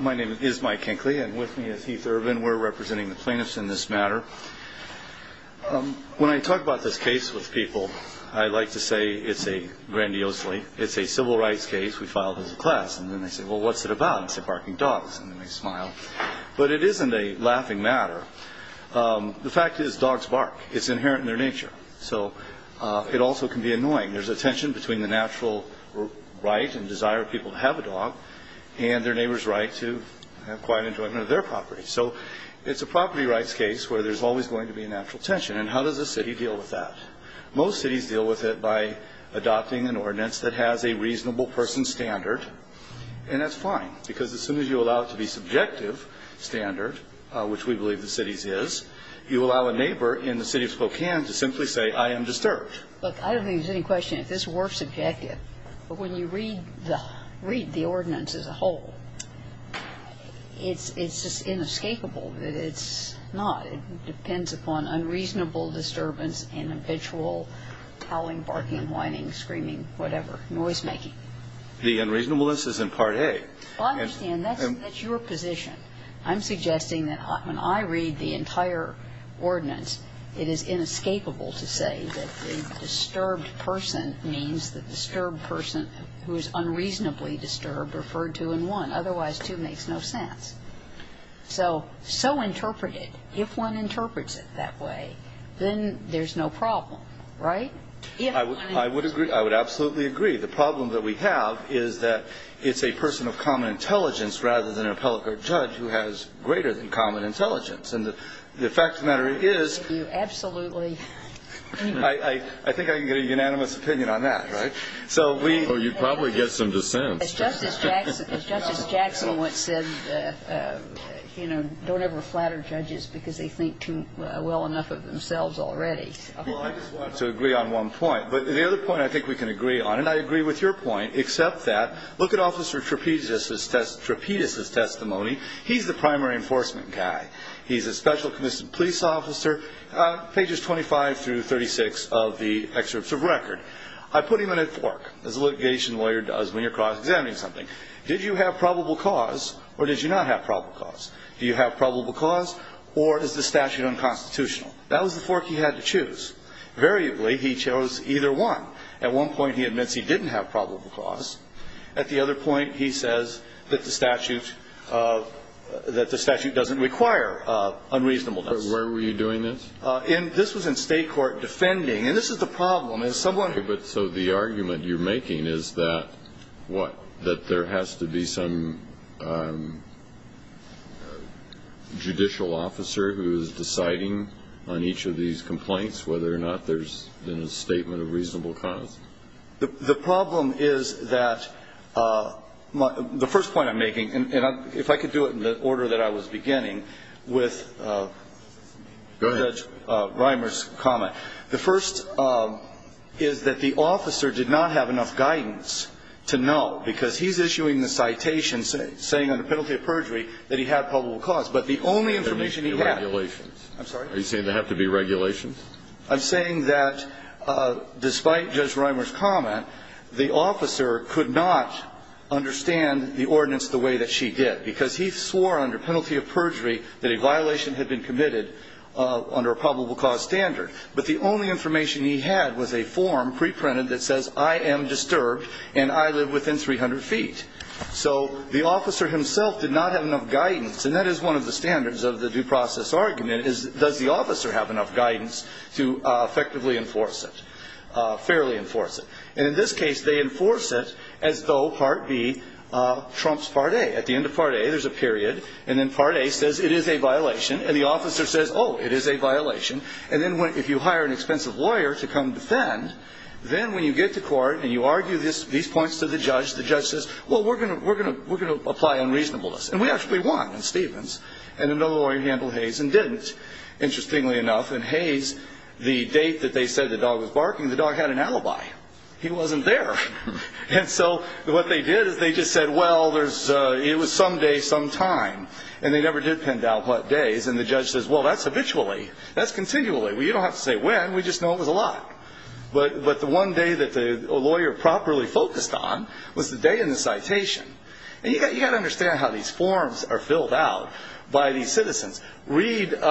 My name is Mike Hinckley and with me is Heath Irvin. We're representing the plaintiffs in this matter. When I talk about this case with people, I like to say it's a, grandiosely, it's a civil rights case. We filed as a class. And then they say, well, what's it about? I say, barking dogs. And then they smile. But it isn't a laughing matter. The fact is, dogs bark. It's inherent in their nature. So it also can be annoying. There's a tension between the natural right and desire of people to have a dog and their neighbor's right to have quiet enjoyment of their property. So it's a property rights case where there's always going to be a natural tension. And how does a city deal with that? Most cities deal with it by adopting an ordinance that has a reasonable person standard. And that's fine, because as soon as you allow it to be subjective standard, which we believe the city's is, you allow a neighbor in the city of Spokane to simply say, I am disturbed. Look, I don't think there's any question if this were subjective. But when you read the ordinance as a whole, it's just inescapable that it's not. It depends upon unreasonable disturbance, inhabitual howling, barking, whining, screaming, whatever, noisemaking. The unreasonableness is in Part A. Well, I understand. That's your position. But I'm suggesting that when I read the entire ordinance, it is inescapable to say that the disturbed person means the disturbed person who is unreasonably disturbed referred to in 1. Otherwise, 2 makes no sense. So interpret it. If one interprets it that way, then there's no problem, right? I would agree. I would absolutely agree. The problem that we have is that it's a person of common intelligence rather than an appellate court judge who has greater than common intelligence. And the fact of the matter is you absolutely – I think I can get a unanimous opinion on that, right? So we – Well, you'd probably get some dissents. As Justice Jackson once said, you know, don't ever flatter judges because they think too well enough of themselves already. Well, I just wanted to agree on one point. Yeah, but the other point I think we can agree on, and I agree with your point, except that look at Officer Trapedas' testimony. He's the primary enforcement guy. He's a special commissioned police officer, pages 25 through 36 of the excerpts of record. I put him in a fork, as a litigation lawyer does when you're cross-examining something. Did you have probable cause or did you not have probable cause? Do you have probable cause or is the statute unconstitutional? That was the fork he had to choose. Variably he chose either one. At one point he admits he didn't have probable cause. At the other point he says that the statute – that the statute doesn't require unreasonableness. But where were you doing this? In – this was in state court defending. And this is the problem. As someone – Okay, but so the argument you're making is that – What? That there has to be some judicial officer who is deciding on each of these complaints, whether or not there's been a statement of reasonable cause? The problem is that – the first point I'm making, and if I could do it in the order that I was beginning with Judge Reimer's comment. The first is that the officer did not have enough guidance to know, because he's issuing the citation saying under penalty of perjury that he had probable cause. But the only information he had – There have to be regulations. I'm sorry? Are you saying there have to be regulations? I'm saying that despite Judge Reimer's comment, the officer could not understand the ordinance the way that she did, because he swore under penalty of perjury that a violation had been committed under a probable cause standard. But the only information he had was a form pre-printed that says I am disturbed and I live within 300 feet. So the officer himself did not have enough guidance, and that is one of the standards of the due process argument, is does the officer have enough guidance to effectively enforce it, fairly enforce it. And in this case, they enforce it as though Part B trumps Part A. At the end of Part A, there's a period, and then Part A says it is a violation, and the officer says, oh, it is a violation. And then if you hire an expensive lawyer to come defend, then when you get to court and you argue these points to the judge, the judge says, well, we're going to apply unreasonableness. And we actually won in Stevens. And another lawyer handled Hayes and didn't, interestingly enough. And Hayes, the date that they said the dog was barking, the dog had an alibi. He wasn't there. And so what they did is they just said, well, it was some day, some time. And they never did pin down what days, and the judge says, well, that's habitually. That's continually. You don't have to say when. We just know it was a lot. But the one day that the lawyer properly focused on was the day in the citation. And you've got to understand how these forms are filled out by these citizens. Read, and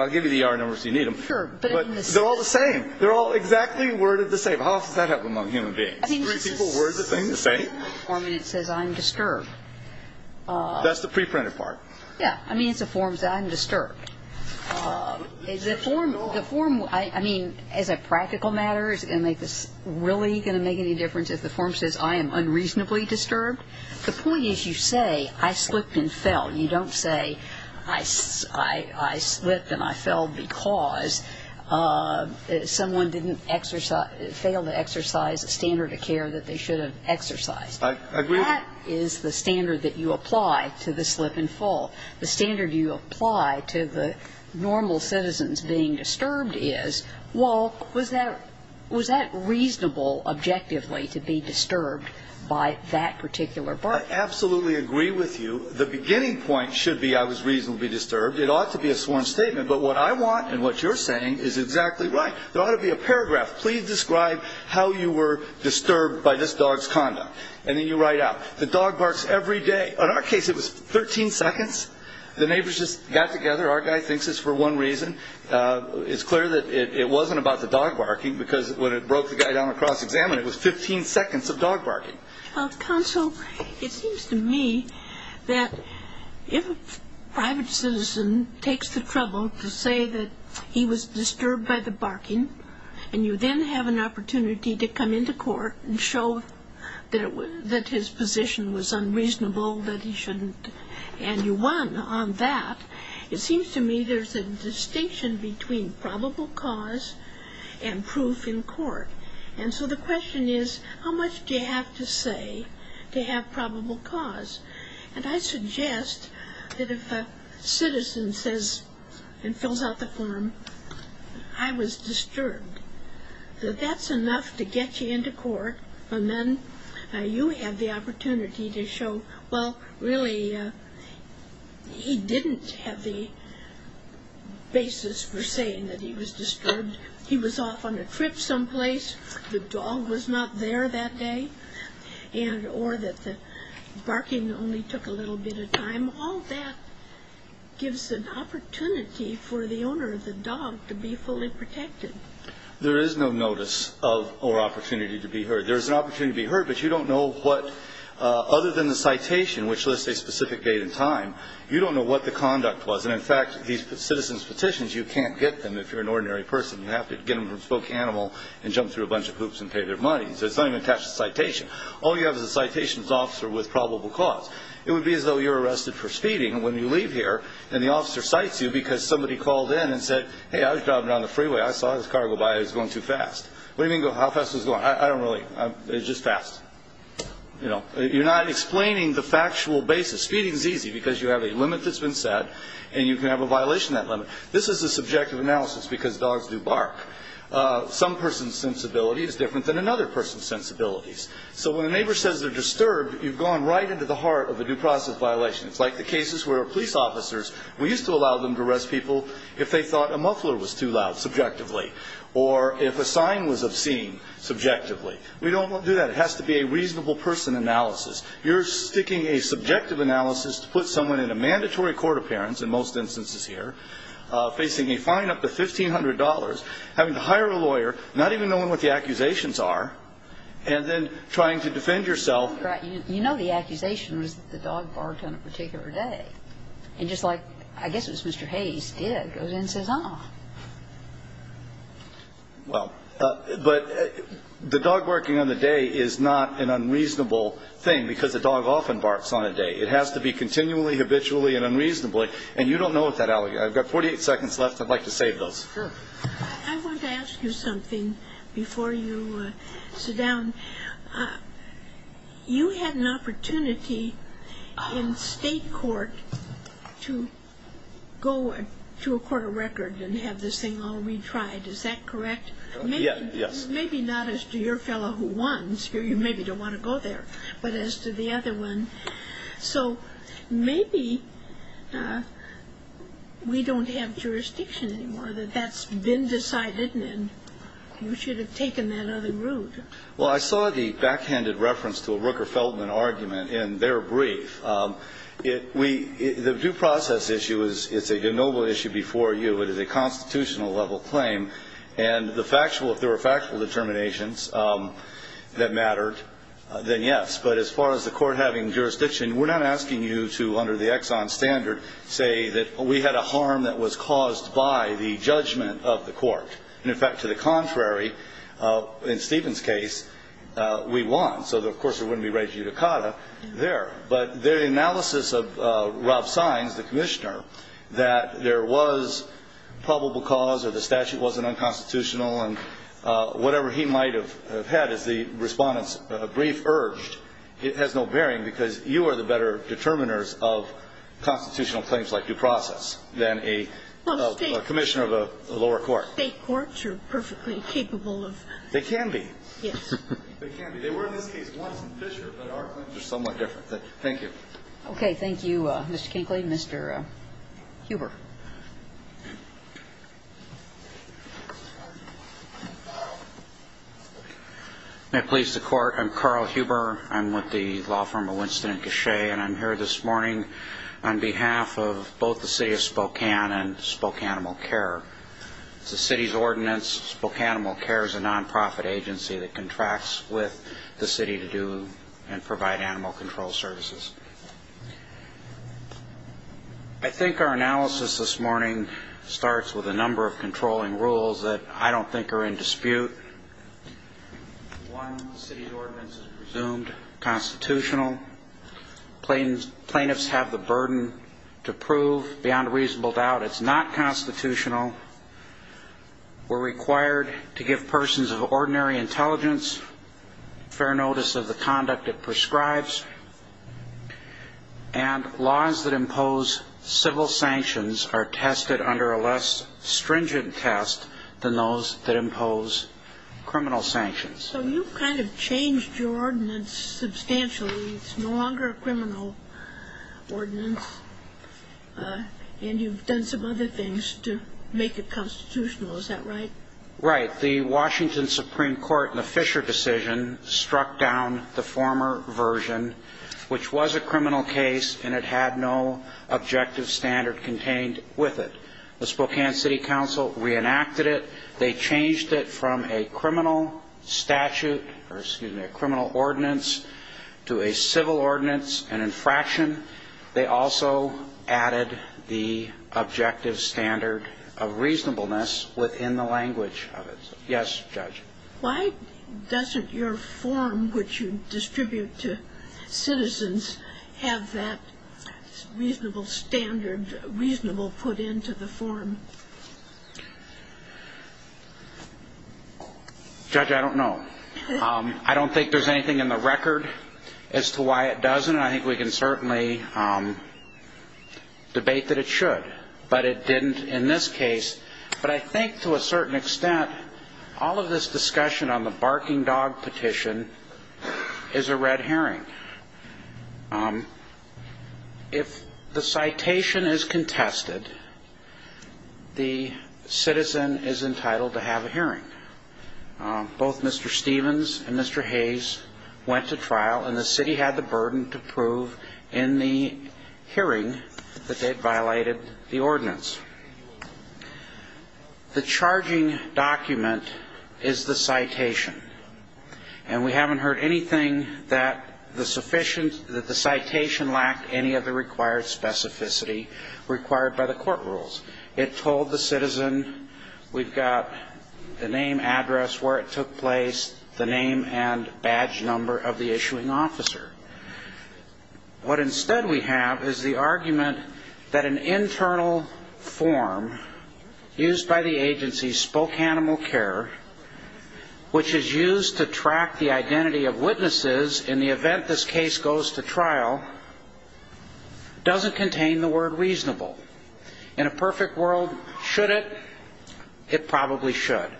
I'll give you the yard numbers if you need them. But they're all the same. They're all exactly worded the same. How often does that happen among human beings? Three people word the same thing. Or it says, I'm disturbed. That's the preprinted part. Yeah. I mean, it's a form that says, I'm disturbed. The form, I mean, as a practical matter, is it really going to make any difference if the form says, I am unreasonably disturbed? The point is you say, I slipped and fell. You don't say, I slipped and I fell because someone didn't exercise, failed to exercise a standard of care that they should have exercised. I agree. That is the standard that you apply to the slip and fall. The standard you apply to the normal citizens being disturbed is, well, was that reasonable objectively to be disturbed by that particular bark? I absolutely agree with you. The beginning point should be, I was reasonably disturbed. It ought to be a sworn statement. But what I want and what you're saying is exactly right. There ought to be a paragraph, please describe how you were disturbed by this dog's conduct. And then you write out, the dog barks every day. In our case, it was 13 seconds. The neighbors just got together. Our guy thinks it's for one reason. It's clear that it wasn't about the dog barking because when it broke the guy down across examine, it was 15 seconds of dog barking. Counsel, it seems to me that if a private citizen takes the trouble to say that he was disturbed by the barking and you then have an opportunity to come into court and show that his position was unreasonable, that he shouldn't, and you won on that, it seems to me there's a distinction between probable cause and proof in court. And so the question is, how much do you have to say to have probable cause? And I suggest that if a citizen says and fills out the form, I was disturbed, that that's enough to get you into court. And then you have the opportunity to show, well, really, he didn't have the basis for saying that he was disturbed. He was off on a trip someplace, the dog was not there that day, or that the barking only took a little bit of time. All that gives an opportunity for the owner of the dog to be fully protected. There is no notice or opportunity to be heard. There is an opportunity to be heard, but you don't know what, other than the citation, which lists a specific date and time, you don't know what the conduct was. And, in fact, these citizen's petitions, you can't get them if you're an ordinary person. You have to get them from a spoke animal and jump through a bunch of hoops and pay their money. So it's not even attached to the citation. All you have is a citation officer with probable cause. It would be as though you're arrested for speeding when you leave here, and the officer cites you because somebody called in and said, hey, I was driving down the freeway, I saw this car go by, it was going too fast. What do you mean, how fast was it going? I don't really, it was just fast. You know, you're not explaining the factual basis. Speeding is easy because you have a limit that's been set, and you can have a violation of that limit. This is a subjective analysis because dogs do bark. Some person's sensibility is different than another person's sensibilities. So when a neighbor says they're disturbed, you've gone right into the heart of a due process violation. It's like the cases where police officers, we used to allow them to arrest people if they thought a muffler was too loud subjectively or if a sign was obscene subjectively. We don't do that. It has to be a reasonable person analysis. You're sticking a subjective analysis to put someone in a mandatory court appearance, in most instances here, facing a fine up to $1,500, having to hire a lawyer, not even knowing what the accusations are, and then trying to defend yourself. You know the accusation was that the dog barked on a particular day. And just like I guess it was Mr. Hayes did, goes in and says, ah. Well, but the dog barking on the day is not an unreasonable thing because a dog often barks on a day. It has to be continually, habitually, and unreasonably. And you don't know what that allegation is. I've got 48 seconds left. I'd like to save those. Sure. I want to ask you something before you sit down. You had an opportunity in state court to go to a court of record and have this thing all retried. Is that correct? Yes. Maybe not as to your fellow who won. You maybe don't want to go there, but as to the other one. So maybe we don't have jurisdiction anymore, that that's been decided and you should have taken that other route. Well, I saw the backhanded reference to a Rooker-Feldman argument in their brief. The due process issue is a noble issue before you. It is a constitutional level claim. And if there were factual determinations that mattered, then yes. But as far as the court having jurisdiction, we're not asking you to under the Exxon standard say that we had a harm that was caused by the judgment of the court. And, in fact, to the contrary, in Stephen's case, we won. So, of course, we wouldn't be raising you to COTA there. But the analysis of Rob Sines, the commissioner, that there was probable cause or the statute wasn't unconstitutional and whatever he might have had as the respondent's brief urged, it has no bearing because you are the better determiners of constitutional claims like due process than a commissioner of a lower court. State courts are perfectly capable of. They can be. Yes. They can be. They were in this case once in Fisher, but our claims are somewhat different. Thank you. Okay. Thank you, Mr. Kinkley. Mr. Huber. May it please the Court. I'm Carl Huber. I'm with the law firm of Winston and Cachet. And I'm here this morning on behalf of both the city of Spokane and Spokanimal Care. It's the city's ordinance. Spokanimal Care is a nonprofit agency that contracts with the city to do and provide animal control services. I think our analysis this morning starts with a number of controlling rules that I don't think are in dispute. One, the city's ordinance is presumed constitutional. Plaintiffs have the burden to prove beyond a reasonable doubt it's not constitutional. We're required to give persons of ordinary intelligence fair notice of the conduct it prescribes. And laws that impose civil sanctions are tested under a less stringent test than those that impose criminal sanctions. So you've kind of changed your ordinance substantially. It's no longer a criminal ordinance, and you've done some other things to make it constitutional. Is that right? Right. In fact, the Washington Supreme Court in the Fisher decision struck down the former version, which was a criminal case and it had no objective standard contained with it. The Spokane City Council reenacted it. They changed it from a criminal statute or, excuse me, a criminal ordinance to a civil ordinance, an infraction. They also added the objective standard of reasonableness within the language of it. Yes, Judge. Why doesn't your form, which you distribute to citizens, have that reasonable standard, reasonable put into the form? Judge, I don't know. I don't think there's anything in the record as to why it doesn't. I think we can certainly debate that it should. But it didn't in this case. But I think to a certain extent, all of this discussion on the barking dog petition is a red herring. If the citation is contested, the citizen is entitled to have a hearing. Both Mr. Stevens and Mr. Hayes went to trial, and the city had the burden to prove in the hearing that they'd violated the ordinance. The charging document is the citation. And we haven't heard anything that the citation lacked any of the required specificity required by the court rules. It told the citizen we've got the name, address, where it took place, the name and badge number of the issuing officer. What instead we have is the argument that an internal form used by the agency, Spoke Animal Care, which is used to track the identity of witnesses in the event this case goes to trial, doesn't contain the word reasonable. In a perfect world, should it? It probably should.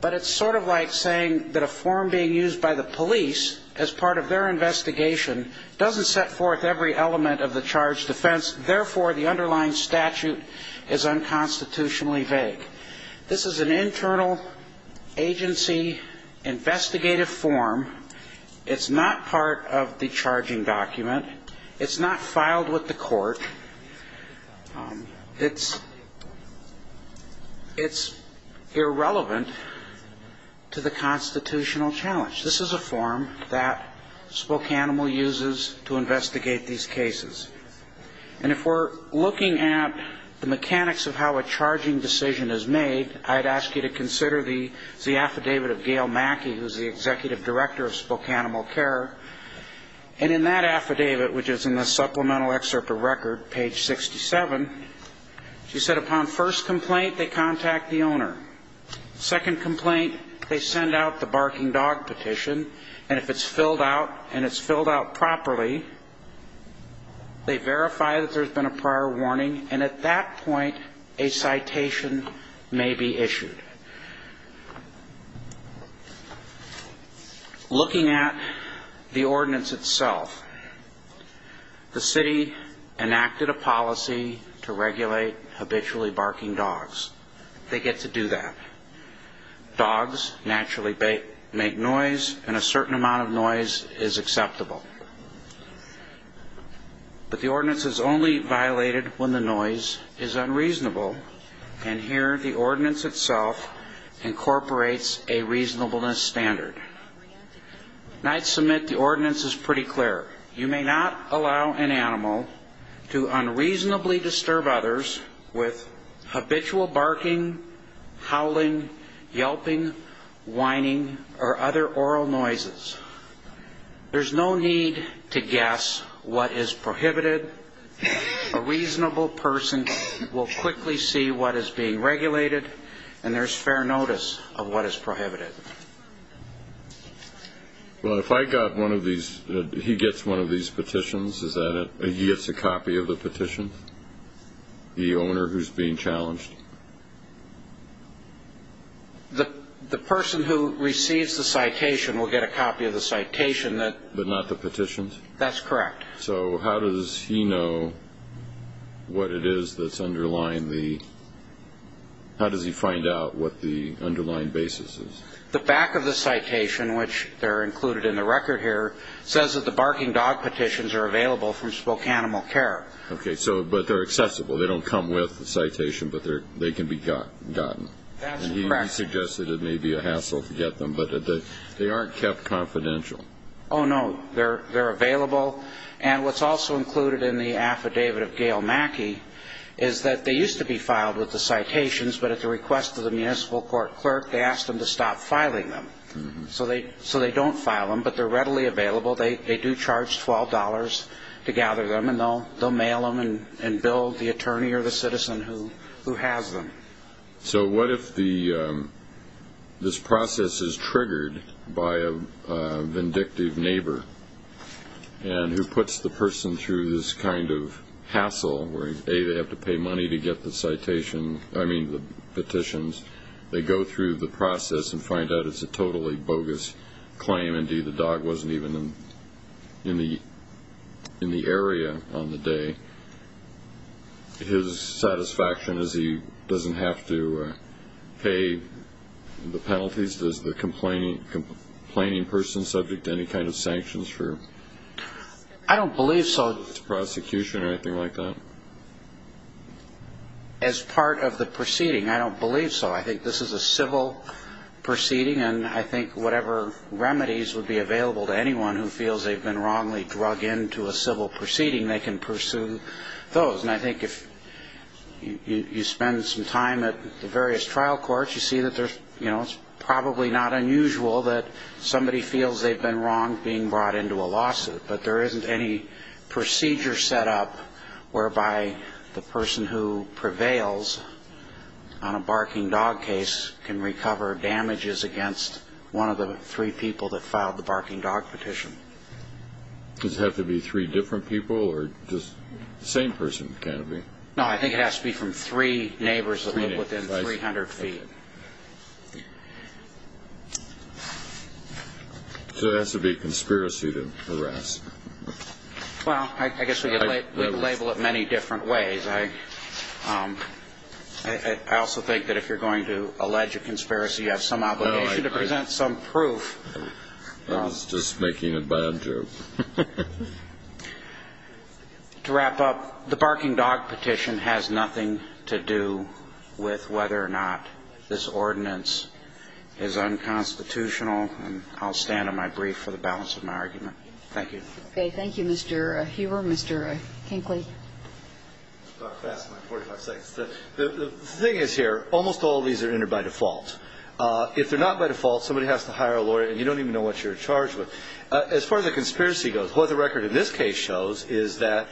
But it's sort of like saying that a form being used by the police as part of their investigation doesn't set forth every element of the charged defense. Therefore, the underlying statute is unconstitutionally vague. This is an internal agency investigative form. It's not part of the charging document. It's not filed with the court. It's irrelevant to the constitutional challenge. This is a form that Spoke Animal uses to investigate these cases. And if we're looking at the mechanics of how a charging decision is made, I'd ask you to consider the affidavit of Gail Mackey, who's the executive director of Spoke Animal Care. And in that affidavit, which is in the supplemental excerpt of record, page 67, she said upon first complaint, they contact the owner. Second complaint, they send out the barking dog petition. And if it's filled out and it's filled out properly, they verify that there's been a prior warning. And at that point, a citation may be issued. Looking at the ordinance itself, the city enacted a policy to regulate habitually barking dogs. They get to do that. Dogs naturally make noise, and a certain amount of noise is acceptable. But the ordinance is only violated when the noise is unreasonable. And here, the ordinance itself incorporates a reasonableness standard. Nights submit, the ordinance is pretty clear. You may not allow an animal to unreasonably disturb others with habitual barking, howling, yelping, whining, or other oral noises. There's no need to guess what is prohibited. A reasonable person will quickly see what is being regulated, and there's fair notice of what is prohibited. Well, if I got one of these, he gets one of these petitions, is that it? He gets a copy of the petition? The owner who's being challenged? The person who receives the citation will get a copy of the citation. But not the petitions? That's correct. So how does he know what it is that's underlying the... How does he find out what the underlying basis is? The back of the citation, which they're included in the record here, says that the barking dog petitions are available from Spokanimal Care. Okay, but they're accessible. They don't come with the citation, but they can be gotten. That's correct. He suggested it may be a hassle to get them, but they aren't kept confidential. Oh, no. They're available. And what's also included in the affidavit of Gail Mackey is that they used to be filed with the citations, but at the request of the municipal court clerk, they asked them to stop filing them. So they don't file them, but they're readily available. They do charge $12 to gather them, and they'll mail them and bill the attorney or the citizen who has them. So what if this process is triggered by a vindictive neighbor who puts the person through this kind of hassle where, A, they have to pay money to get the petitions. They go through the process and find out it's a totally bogus claim, and D, the dog wasn't even in the area on the day. His satisfaction is he doesn't have to pay the penalties. Is the complaining person subject to any kind of sanctions for prosecution or anything like that? I don't believe so. As part of the proceeding, I don't believe so. I think this is a civil proceeding, and I think whatever remedies would be available to anyone who feels they've been wrongly drug into a civil proceeding, they can pursue those. And I think if you spend some time at the various trial courts, you see that it's probably not unusual that somebody feels they've been wrong being brought into a lawsuit. But there isn't any procedure set up whereby the person who prevails on a barking dog case can recover damages against one of the three people that filed the barking dog petition. Does it have to be three different people, or just the same person? No, I think it has to be from three neighbors that live within 300 feet. So it has to be a conspiracy to harass? Well, I guess we label it many different ways. I also think that if you're going to allege a conspiracy, you have some obligation to present some proof. I was just making a bad joke. To wrap up, the barking dog petition has nothing to do with whether or not this ordinance is unconstitutional, and I'll stand on my brief for the balance of my argument. Thank you. Okay. So you're not by default, somebody has to hire a lawyer, and you don't even know what you're charged with. As far as the conspiracy goes, what the record in this case shows is that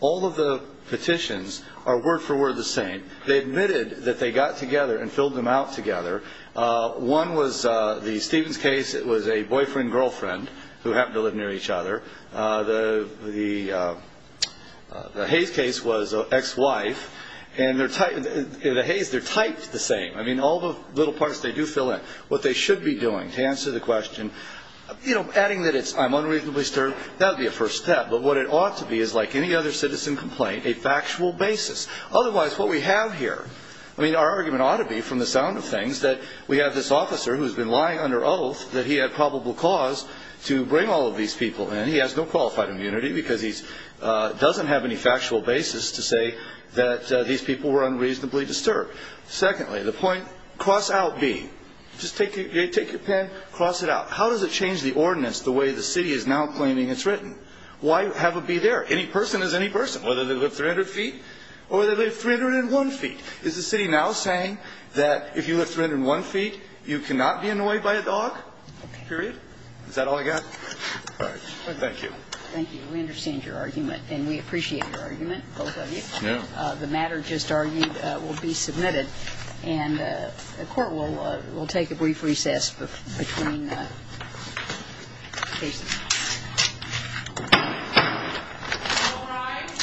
all of the petitions are word for word the same. They admitted that they got together and filled them out together. One was the Stevens case. It was a boyfriend-girlfriend who happened to live near each other. The Hayes case was an ex-wife. And the Hayes, they're typed the same. I mean, all the little parts they do fill in. What they should be doing to answer the question, adding that I'm unreasonably disturbed, that would be a first step. But what it ought to be is, like any other citizen complaint, a factual basis. Otherwise, what we have here, I mean, our argument ought to be, from the sound of things, that we have this officer who's been lying under oath that he had probable cause to bring all of these people in. He has no qualified immunity because he doesn't have any factual basis to say that these people were unreasonably disturbed. Secondly, the point, cross out B. Just take your pen, cross it out. How does it change the ordinance the way the city is now claiming it's written? Why have a B there? Any person is any person, whether they live 300 feet or they live 301 feet. Is the city now saying that if you live 301 feet, you cannot be annoyed by a dog, period? Is that all I got? All right. Thank you. Thank you. We understand your argument, and we appreciate your argument, both of you. Yeah. The matter just argued will be submitted, and the Court will take a brief recess between cases. All rise. This Court stands in recess.